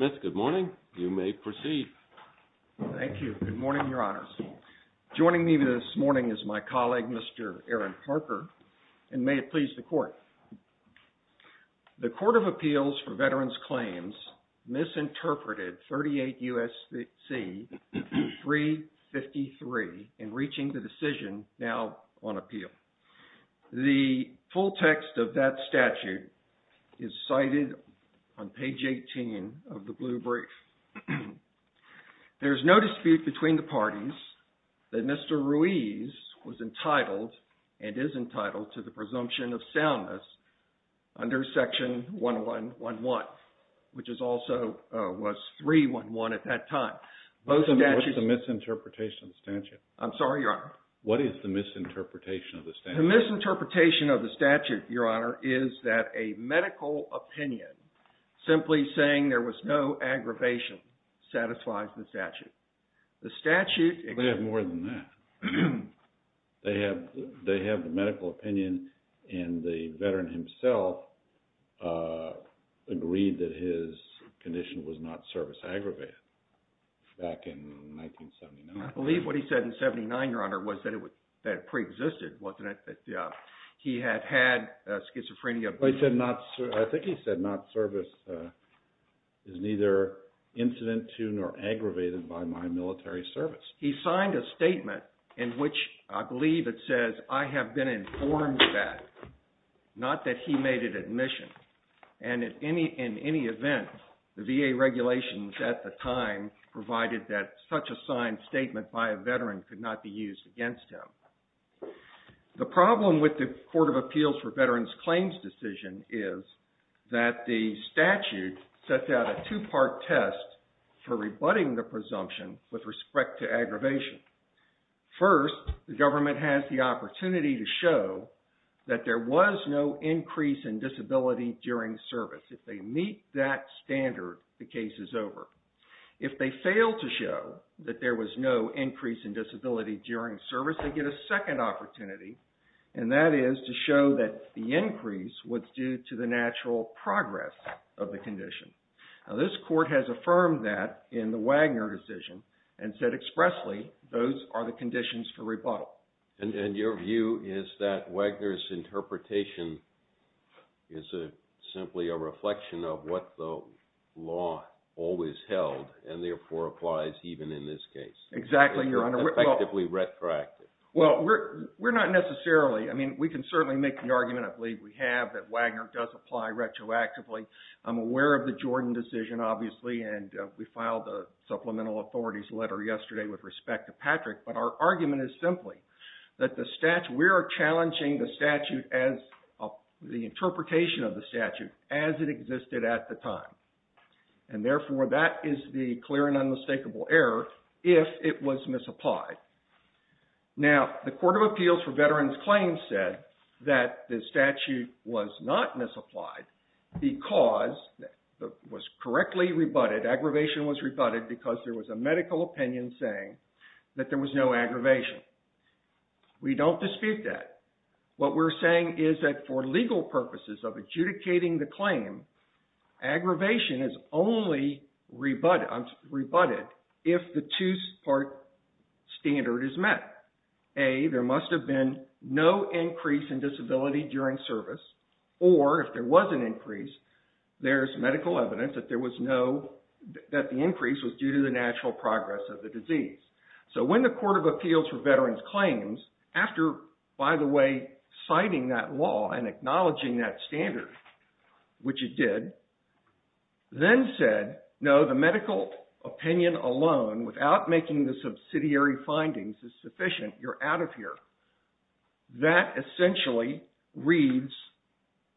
Mr. Smith, good morning. You may proceed. Thank you. Good morning, Your Honors. Joining me this morning is my colleague, Mr. Aaron Parker, and may it please the Court. The Court of Appeals for Veterans Claims misinterpreted 38 U.S.C. 353 in reaching the decision now on appeal. The full text of that statute is cited on page 18 of the blue brief. There is no dispute between the parties that Mr. Ruiz was entitled and is entitled to the presumption of soundness under Section 1111, which also was 311 at that time. What's the misinterpretation of the statute? I'm sorry, Your Honor. What is the misinterpretation of the statute? The misinterpretation of the statute, Your Honor, is that a medical opinion simply saying there was no aggravation satisfies the statute. The statute... They have more than that. They have the medical opinion and the veteran himself agreed that his condition was not service aggravated back in 1979. I believe what he said in 79, Your Honor, was that it preexisted, wasn't it? He had had schizophrenia... I think he said not service is neither incident to nor aggravated by my military service. He signed a statement in which I believe it says, I have been informed that, not that he made it admission. And in any event, the VA regulations at the time provided that such a signed statement by a veteran could not be used against him. The problem with the Court of Appeals for Veterans Claims decision is that the statute sets out a two-part test for rebutting the presumption with respect to aggravation. First, the government has the opportunity to show that there was no increase in disability during service. If they meet that standard, the case is over. If they fail to show that there was no increase in disability during service, they get a second opportunity, and that is to show that the increase was due to the natural progress of the condition. Now, this court has affirmed that in the Wagner decision and said expressly those are the conditions for rebuttal. And your view is that Wagner's interpretation is simply a reflection of what the law always held and therefore applies even in this case. Exactly, Your Honor. Effectively retroactive. Well, we're not necessarily. I mean, we can certainly make the argument, I believe we have, that Wagner does apply retroactively. I'm aware of the Jordan decision, obviously, and we filed a supplemental authorities letter yesterday with respect to Patrick. But our argument is simply that the statute, we are challenging the statute as, the interpretation of the statute as it existed at the time. And therefore, that is the clear and unmistakable error if it was misapplied. Now, the Court of Appeals for Veterans Claims said that the statute was not misapplied because it was correctly rebutted, aggravation was rebutted because there was a medical opinion saying that there was no aggravation. We don't dispute that. What we're saying is that for legal purposes of adjudicating the claim, aggravation is only rebutted if the two-part standard is met. A, there must have been no increase in disability during service, or if there was an increase, there's medical evidence that there was no, that the increase was due to the natural progress of the disease. So when the Court of Appeals for Veterans Claims, after, by the way, citing that law and acknowledging that standard, which it did, then said, no, the medical opinion alone without making the subsidiary findings is sufficient. You're out of here. That essentially reads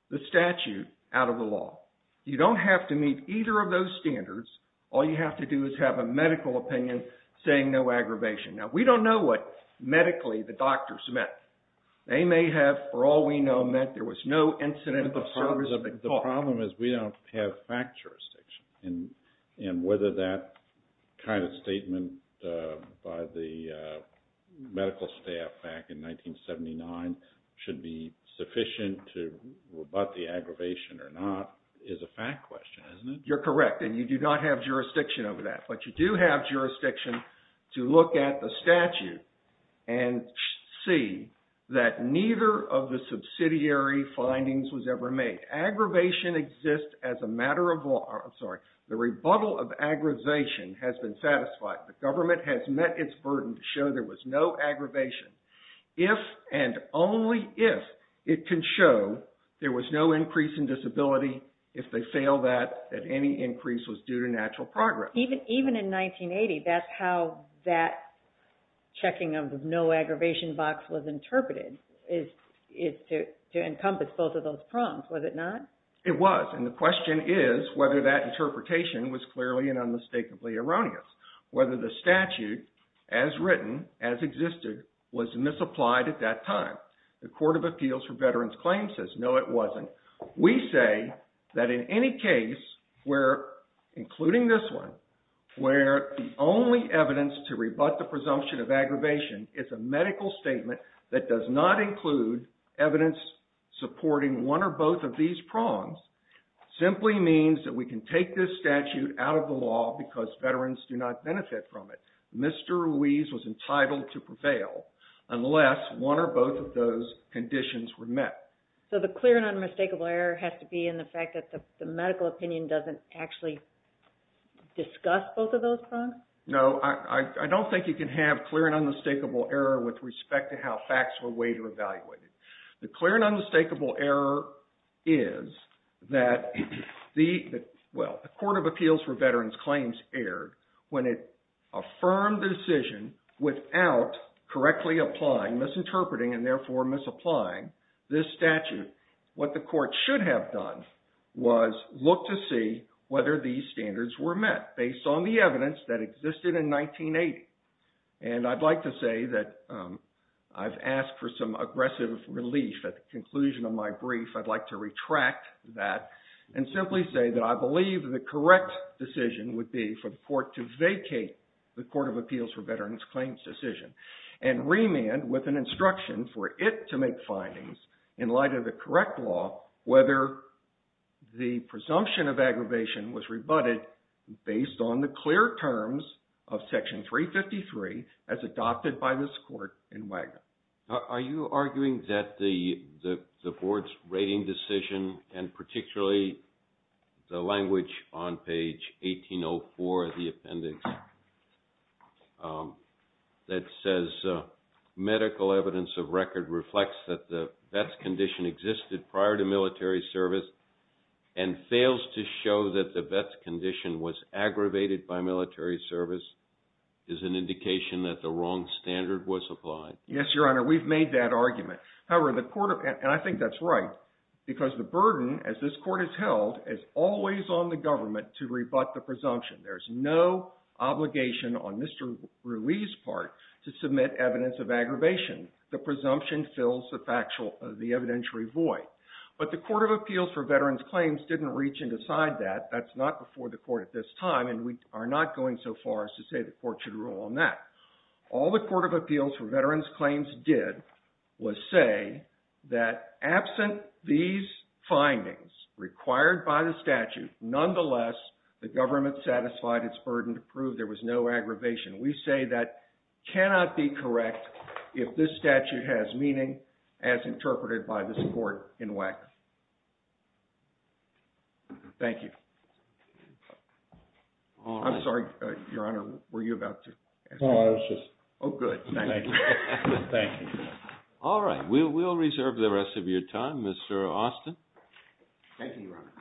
the statute out of the law. You don't have to meet either of those standards. All you have to do is have a medical opinion saying no aggravation. Now, we don't know what medically the doctors meant. They may have, for all we know, meant there was no incident of service. But the problem is we don't have fact jurisdiction. And whether that kind of statement by the medical staff back in 1979 should be sufficient to rebut the aggravation or not is a fact question, isn't it? You're correct. And you do not have jurisdiction over that. But you do have jurisdiction to look at the statute and see that neither of the subsidiary findings was ever made. Aggravation exists as a matter of law. I'm sorry. The rebuttal of aggravation has been satisfied. The government has met its burden to show there was no aggravation. If and only if it can show there was no increase in disability, if they fail that, that any increase was due to natural progress. Even in 1980, that's how that checking of the no aggravation box was interpreted, is to encompass both of those prongs, was it not? It was. And the question is whether that interpretation was clearly and unmistakably erroneous. Whether the statute, as written, as existed, was misapplied at that time. The Court of Appeals for Veterans Claims says no, it wasn't. We say that in any case where, including this one, where the only evidence to rebut the presumption of aggravation is a medical statement that does not include evidence supporting one or both of these prongs, simply means that we can take this statute out of the law because veterans do not benefit from it. Mr. Ruiz was entitled to prevail unless one or both of those conditions were met. So the clear and unmistakable error has to be in the fact that the medical opinion doesn't actually discuss both of those prongs? No, I don't think you can have clear and unmistakable error with respect to how facts were weighed or evaluated. The clear and unmistakable error is that the, well, the Court of Appeals for Veterans Claims erred when it affirmed the decision without correctly applying, misinterpreting, and therefore misapplying this statute. What the court should have done was look to see whether these standards were met based on the evidence that existed in 1980. And I'd like to say that I've asked for some aggressive relief at the conclusion of my brief. I'd like to retract that and simply say that I believe the correct decision would be for the court to vacate the Court of Appeals for Veterans Claims decision and remand with an instruction for it to make findings in light of the correct law whether the presumption of aggravation was rebutted based on the clear terms of Section 353 as adopted by this court in Wagner. Now, are you arguing that the Board's rating decision and particularly the language on page 1804 of the appendix that says medical evidence of record reflects that the best condition was aggravated by military service is an indication that the wrong standard was applied? Yes, Your Honor. We've made that argument. However, the court, and I think that's right, because the burden as this court has held is always on the government to rebut the presumption. There's no obligation on Mr. Ruiz's part to submit evidence of aggravation. The presumption fills the evidentiary void. But the Court of Appeals for Veterans Claims didn't reach and decide that. That's not before the court at this time, and we are not going so far as to say the court should rule on that. All the Court of Appeals for Veterans Claims did was say that absent these findings required by the statute, nonetheless, the government satisfied its burden to prove there was no aggravation. We say that cannot be correct if this statute has meaning as interpreted by this court in WACC. Thank you. All right. I'm sorry, Your Honor. Were you about to ask me? No, I was just... Oh, good. Thank you. Thank you. We'll reserve the rest of your time, Mr. Austin. Thank you, Your Honor.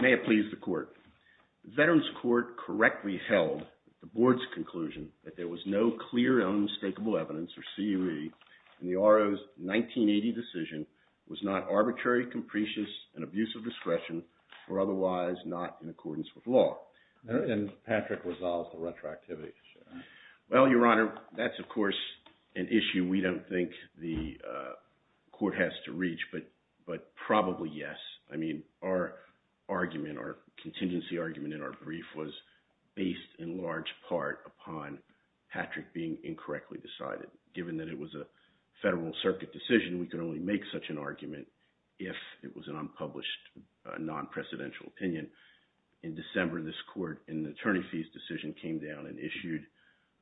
May it please the Court. The Veterans Court correctly held the Board's conclusion that there was no clear and unmistakable evidence for CUE in the RO's 1980 decision was not arbitrary, capricious, and abuse of discretion, or otherwise not in accordance with law. And Patrick resolves the retroactivity issue. Well, Your Honor, that's, of course, an issue we don't think the Court of Appeals for Veterans Court has to reach, but probably yes. I mean, our argument, our contingency argument in our brief was based in large part upon Patrick being incorrectly decided. Given that it was a Federal Circuit decision, we could only make such an argument if it was an unpublished, non-precedential opinion. In December, this Court, in the attorney fees decision, came down and issued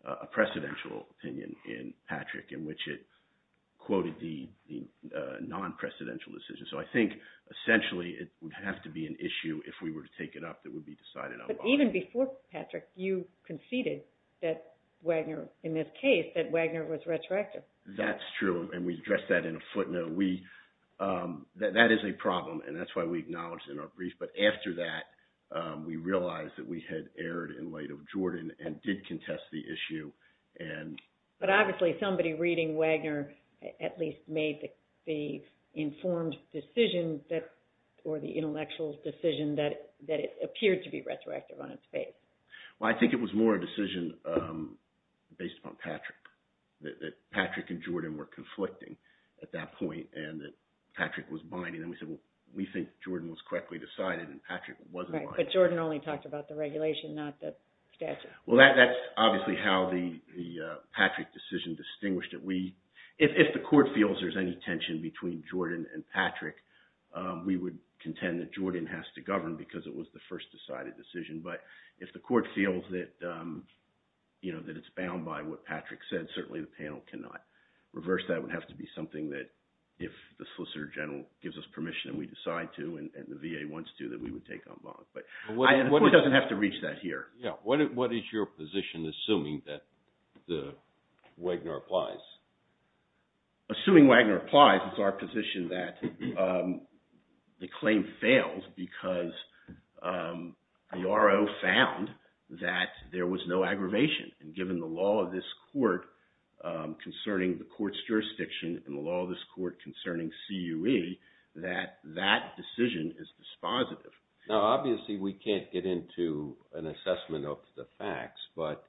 a precedential opinion in Patrick in which it quoted the non-precedential decision. So I think, essentially, it would have to be an issue, if we were to take it up, that would be decided unlawfully. But even before Patrick, you conceded that Wagner, in this case, that Wagner was retroactive. That's true, and we addressed that in a footnote. That is a problem, and that's why we acknowledged it in our brief. But after that, we realized that we had erred in light of Jordan and did contest the issue But obviously, somebody reading Wagner at least made the informed decision, or the intellectual decision, that it appeared to be retroactive on its face. Well, I think it was more a decision based upon Patrick, that Patrick and Jordan were conflicting at that point, and that Patrick was binding. Then we said, well, we think Jordan was correctly decided, and Patrick wasn't binding. Right, but Jordan only talked about the regulation, not the statute. Well, that's obviously how the Patrick decision distinguished it. If the court feels there's any tension between Jordan and Patrick, we would contend that Jordan has to govern, because it was the first decided decision. But if the court feels that it's bound by what Patrick said, certainly the panel cannot reverse that. It would have to be something that, if the Solicitor General gives us permission, and we decide to, and the VA wants to, that we would take on bond. But the court doesn't have to reach that here. Yeah. What is your position, assuming that Wagner applies? Assuming Wagner applies, it's our position that the claim fails, because the RO found that there was no aggravation. And given the law of this court, concerning the court's jurisdiction, and the law of this court concerning CUE, that that decision is dispositive. Now, obviously, we can't get into an assessment of the facts, but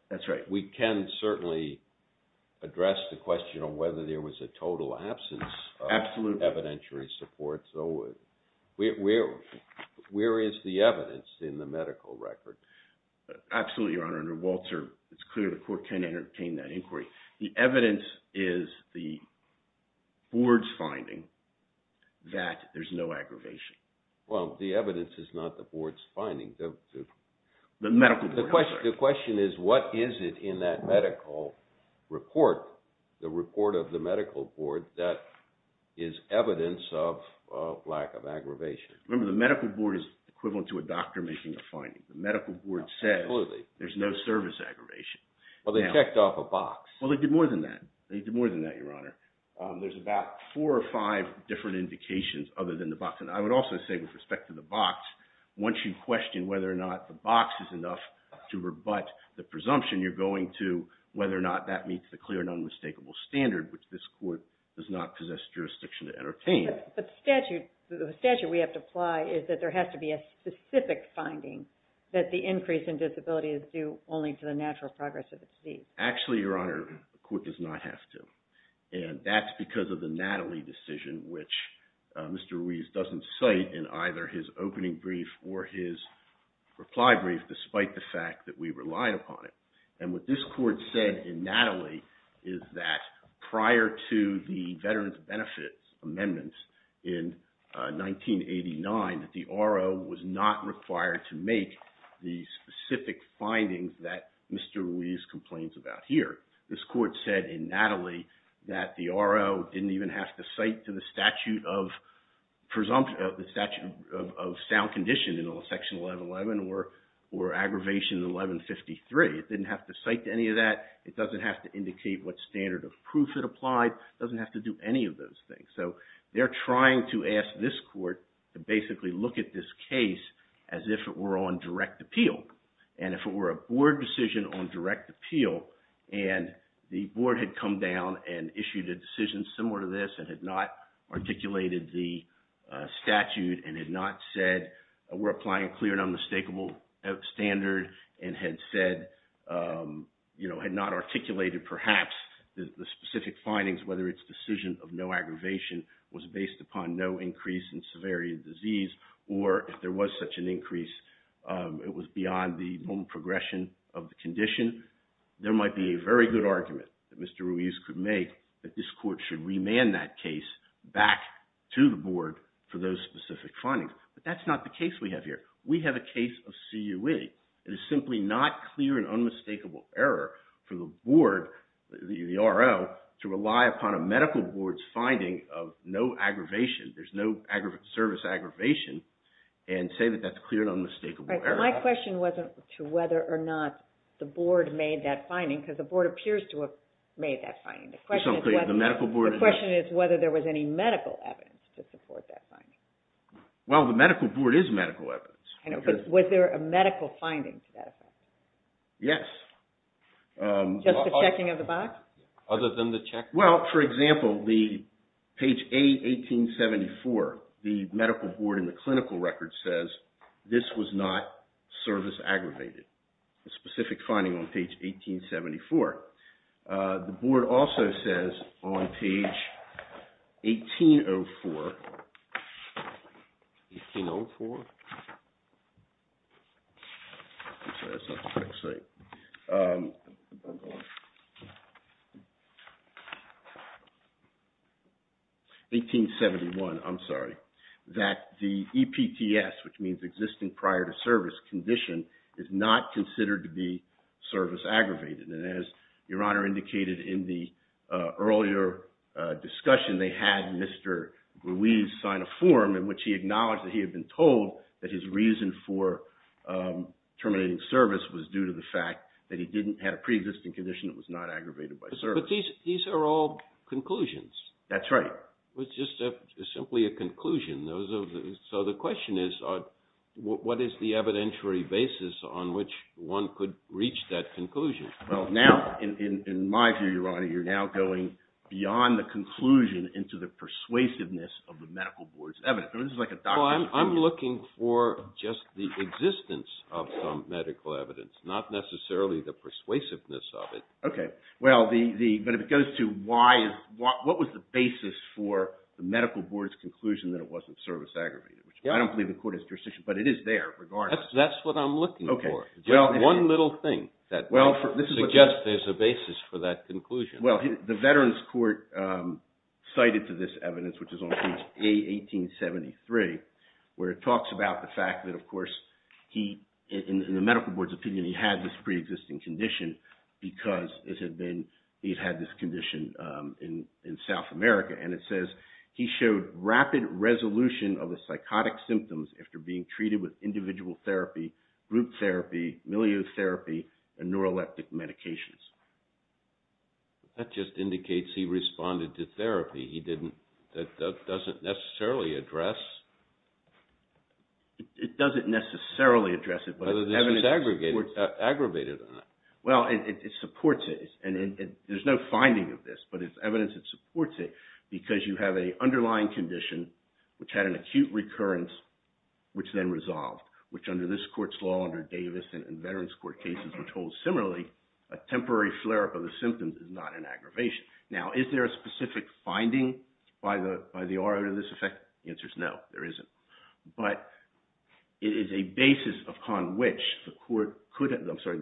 we can certainly address the question of whether there was a total absence of evidentiary support. So where is the evidence in the medical record? Absolutely, Your Honor. Under Walter, it's clear the court can entertain that inquiry. The evidence is the board's finding that there's no aggravation. Well, the evidence is not the board's finding. The medical record. The question is, what is it in that medical report, the report of the medical board, that is evidence of lack of aggravation? Remember, the medical board is equivalent to a doctor making a finding. The medical board says there's no service aggravation. Well, they checked off a box. Well, they did more than that. They did more than that, Your Honor. There's about four or five different indications other than the box. And I would also say, with respect to the box, once you question whether or not the box is enough to rebut the presumption, you're going to whether or not that meets the clear and unmistakable standard, which this court does not possess jurisdiction to entertain. But the statute we have to apply is that there has to be a specific finding that the increase in disability is due only to the natural progress of the disease. Actually, Your Honor, the court does not have to. And that's because of the Natalie decision, which Mr. Ruiz doesn't cite in either his opening brief or his reply brief, despite the fact that we rely upon it. And what this court said in Natalie is that prior to the Veterans Benefits Amendment in 1989, that the RO was not required to make the specific findings that Mr. Ruiz complains about here. This court said in Natalie that the RO didn't even have to cite to the statute of sound condition in Section 1111 or Aggravation 1153. It didn't have to cite to any of that. It doesn't have to indicate what standard of proof it applied. It doesn't have to do any of those things. So they're trying to ask this court to basically look at this case as if it were on direct appeal. And if it were a board decision on direct appeal and the board had come down and issued a decision similar to this and had not articulated the statute and had not said we're applying a clear and unmistakable standard and had said, you know, had not articulated perhaps the specific findings, whether its decision of no aggravation was based upon no increase in severity of disease or if there was such an increase it was beyond the normal progression of the condition, there might be a very good argument that Mr. Ruiz could make that this court should remand that case back to the board for those specific findings. But that's not the case we have here. We have a case of CUE. It is simply not clear and unmistakable error for the board, the RO, to rely upon a medical board's finding of no aggravation. There's no service aggravation and say that that's clear and unmistakable error. My question wasn't to whether or not the board made that finding because the board appears to have made that finding. The question is whether there was any medical evidence to support that finding. Well, the medical board is medical evidence. Was there a medical finding to that effect? Yes. Just the checking of the box? Other than the check? Well, for example, the page A1874, the medical board in the clinical record says this was not service aggravated, a specific finding on page 1874. The board also says on page 1804, 1804, 1871, I'm sorry, that the EPTS, which means existing prior to service condition, is not considered to be service aggravated. And as Your Honor indicated in the earlier discussion, they had Mr. Ruiz sign a form in which he acknowledged that he had been told that his reason for terminating service was due to the fact that he didn't have a pre-existing condition that was not aggravated by service. But these are all conclusions. That's right. It's just simply a conclusion. So the question is what is the evidentiary basis on which one could reach that conclusion? Well, now, in my view, Your Honor, you're now going beyond the conclusion into the persuasiveness of the medical board's evidence. This is like a doctor's opinion. Well, I'm looking for just the existence of some medical evidence, not necessarily the persuasiveness of it. Okay. Well, but if it goes to what was the basis for the medical board's conclusion that it wasn't service aggravated, which I don't believe in court jurisdiction, but it is there regardless. That's what I'm looking for. Okay. Just one little thing that suggests there's a basis for that conclusion. Well, the Veterans Court cited to this evidence, which is on page A-1873, where it talks about the fact that, of course, in the medical board's opinion, he had this pre-existing condition because he'd had this condition in South America. And it says he showed rapid resolution of the psychotic symptoms after being treated with individual therapy, group therapy, milieu therapy, and neuroleptic medications. That just indicates he responded to therapy. He didn't. That doesn't necessarily address. It doesn't necessarily address it. Whether this was aggravated or not. Well, it supports it. And there's no finding of this, but it's evidence that supports it, because you have an underlying condition which had an acute recurrence, which then resolved, which under this court's law, under Davis and Veterans Court cases, were told similarly a temporary flare-up of the symptoms is not an aggravation. Now, is there a specific finding by the RO to this effect? The answer is no. There isn't. But it is a basis upon which the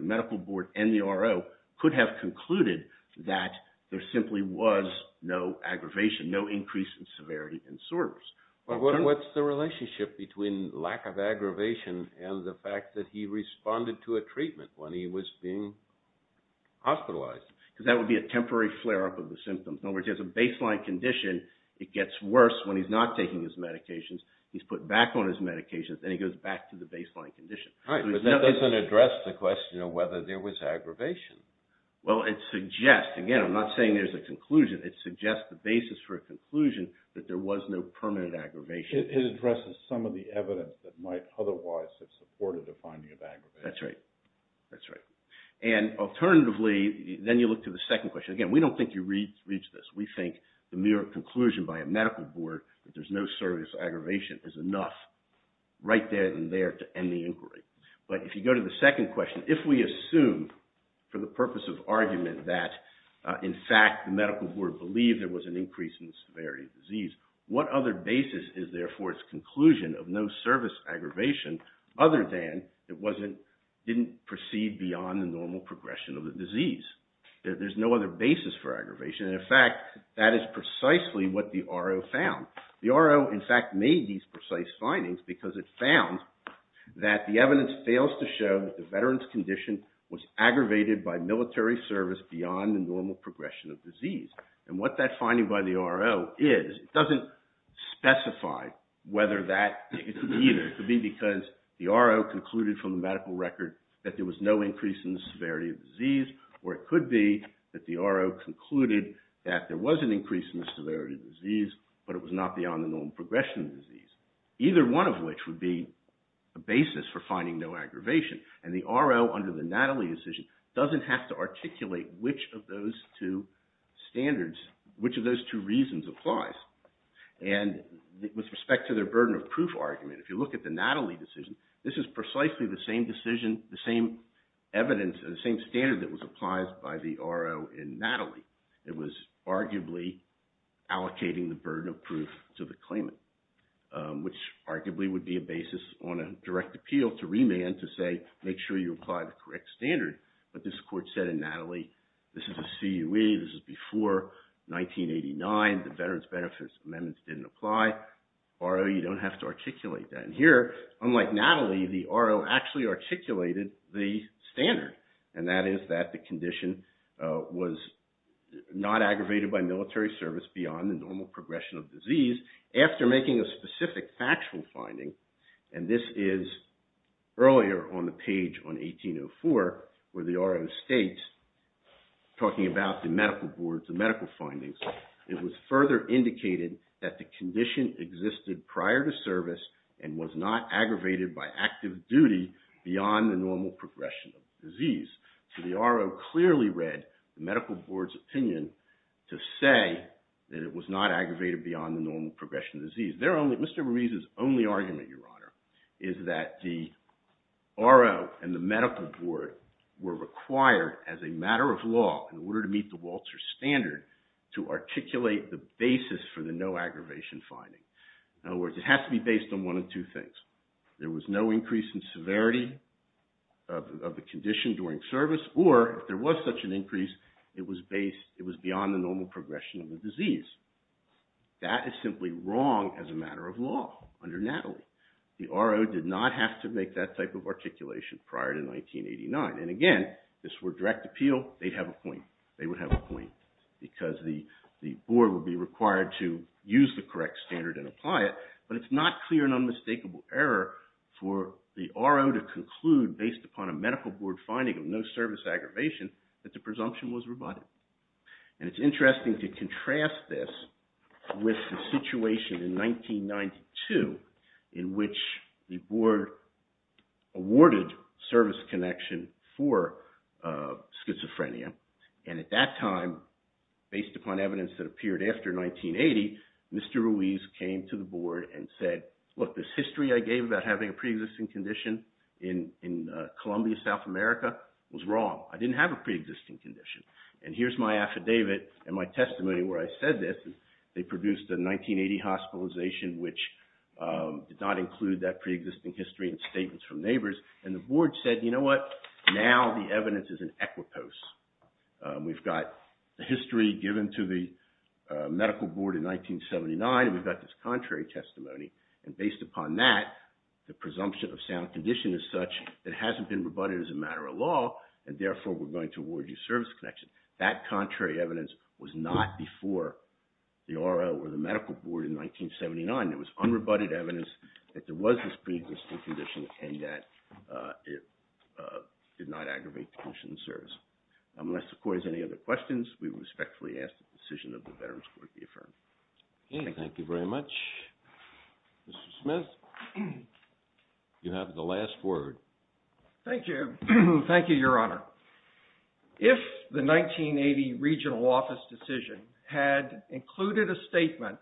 medical board and the RO could have concluded that there simply was no aggravation, no increase in severity and soreness. Well, what's the relationship between lack of aggravation and the fact that he responded to a treatment when he was being hospitalized? Because that would be a temporary flare-up of the symptoms. In other words, he has a baseline condition. It gets worse when he's not taking his medications. He's put back on his medications, and he goes back to the baseline condition. Right. But that doesn't address the question of whether there was aggravation. Well, it suggests, again, I'm not saying there's a conclusion. It suggests the basis for a conclusion that there was no permanent aggravation. It addresses some of the evidence that might otherwise have supported the finding of aggravation. That's right. That's right. And alternatively, then you look to the second question. Again, we don't think you reach this. We think the mere conclusion by a medical board that there's no serious aggravation is enough right there and there to end the inquiry. But if you go to the second question, if we assume for the purpose of argument that, in fact, the medical board believed there was an increase in the severity of the disease, what other basis is there for its conclusion of no service aggravation other than it didn't proceed beyond the normal progression of the disease? There's no other basis for aggravation. And, in fact, that is precisely what the RO found. The RO, in fact, made these precise findings because it found that the evidence fails to show that the veteran's condition was aggravated by military service beyond the normal progression of disease. And what that finding by the RO is, it doesn't specify whether that could be either. It could be because the RO concluded from the medical record that there was no increase in the severity of the disease, or it could be that the RO concluded that there was an increase in the severity of the disease, but it was not beyond the normal progression of the disease. Either one of which would be a basis for finding no aggravation. And the RO, under the Natalie decision, doesn't have to articulate which of those two standards, which of those two reasons applies. And with respect to their burden of proof argument, if you look at the Natalie decision, this is precisely the same decision, the same evidence, the same standard that was applied by the RO in Natalie. It was arguably allocating the burden of proof to the claimant, which arguably would be a basis on a direct appeal to remand to say, make sure you apply the correct standard. But this court said in Natalie, this is a CUE. This is before 1989. The Veterans Benefits Amendment didn't apply. RO, you don't have to articulate that. And here, unlike Natalie, the RO actually articulated the standard, and that is that the condition was not aggravated by military service beyond the normal progression of disease. After making a specific factual finding, and this is earlier on the page on 1804, where the RO states, talking about the medical boards and medical findings, it was further indicated that the condition existed prior to service and was not aggravated by active duty beyond the normal progression of disease. So the RO clearly read the medical board's opinion to say that it was not aggravated beyond the normal progression of disease. Mr. Ruiz's only argument, Your Honor, is that the RO and the medical board were required, as a matter of law, in order to meet the Walter standard, to articulate the basis for the no-aggravation finding. In other words, it has to be based on one of two things. There was no increase in severity of the condition during service, or if there was such an increase, it was beyond the normal progression of the disease. That is simply wrong as a matter of law under Natalie. The RO did not have to make that type of articulation prior to 1989. And again, if this were direct appeal, they'd have a point. They would have a point because the board would be required to use the correct standard and apply it. But it's not clear and unmistakable error for the RO to conclude, based upon a medical board finding of no service aggravation, that the presumption was rebutted. And it's interesting to contrast this with the situation in 1992, in which the board awarded service connection for schizophrenia. And at that time, based upon evidence that appeared after 1980, Mr. Ruiz came to the board and said, look, this history I gave about having a pre-existing condition in Columbia, South America, was wrong. I didn't have a pre-existing condition. And here's my affidavit and my testimony where I said this. They produced a 1980 hospitalization, which did not include that pre-existing history and statements from neighbors. And the board said, you know what? Now the evidence is in equipoise. We've got the history given to the medical board in 1979. We've got this contrary testimony. And based upon that, the presumption of sound condition is such that it hasn't been rebutted as a matter of law. And therefore, we're going to award you service connection. That contrary evidence was not before the R.O. or the medical board in 1979. It was unrebutted evidence that there was this pre-existing condition and that it did not aggravate the condition of service. Unless the court has any other questions, we respectfully ask that the decision of the Veterans Court be affirmed. Okay, thank you very much. Mr. Smith, you have the last word. Thank you. Thank you, Your Honor. If the 1980 regional office decision had included a statement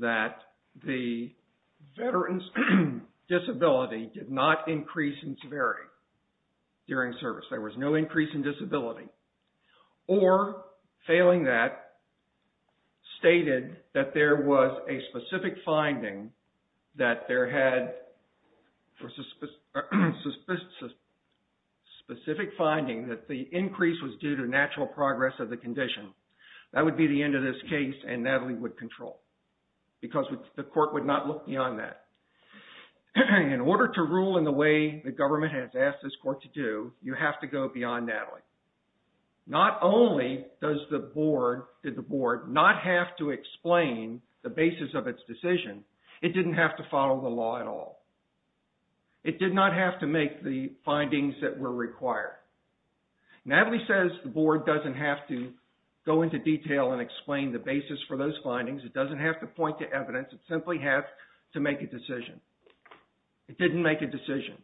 that the veteran's disability did not increase in severity during service, there was no increase in disability, or failing that, stated that there was a specific finding that there had, or specific finding that the increase was due to natural progress of the condition, that would be the end of this case and Natalie would control because the court would not look beyond that. In order to rule in the way the government has asked this court to do, you have to go beyond Natalie. Not only did the board not have to explain the basis of its decision, it didn't have to follow the law at all. It did not have to make the findings that were required. Natalie says the board doesn't have to go into detail and explain the basis for those findings. It doesn't have to point to evidence. It simply has to make a decision. It didn't make a decision.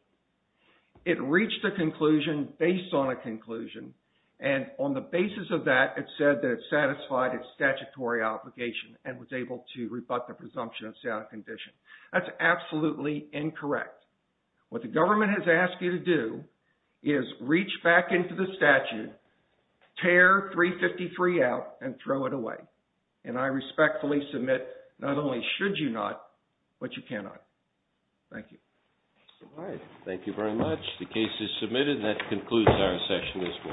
It reached a conclusion based on a conclusion and on the basis of that, it said that it satisfied its statutory obligation and was able to rebut the presumption of sound condition. That's absolutely incorrect. What the government has asked you to do is reach back into the statute, tear 353 out, and throw it away. I respectfully submit not only should you not, but you cannot. Thank you. All right. Thank you very much. The case is submitted. That concludes our session this morning.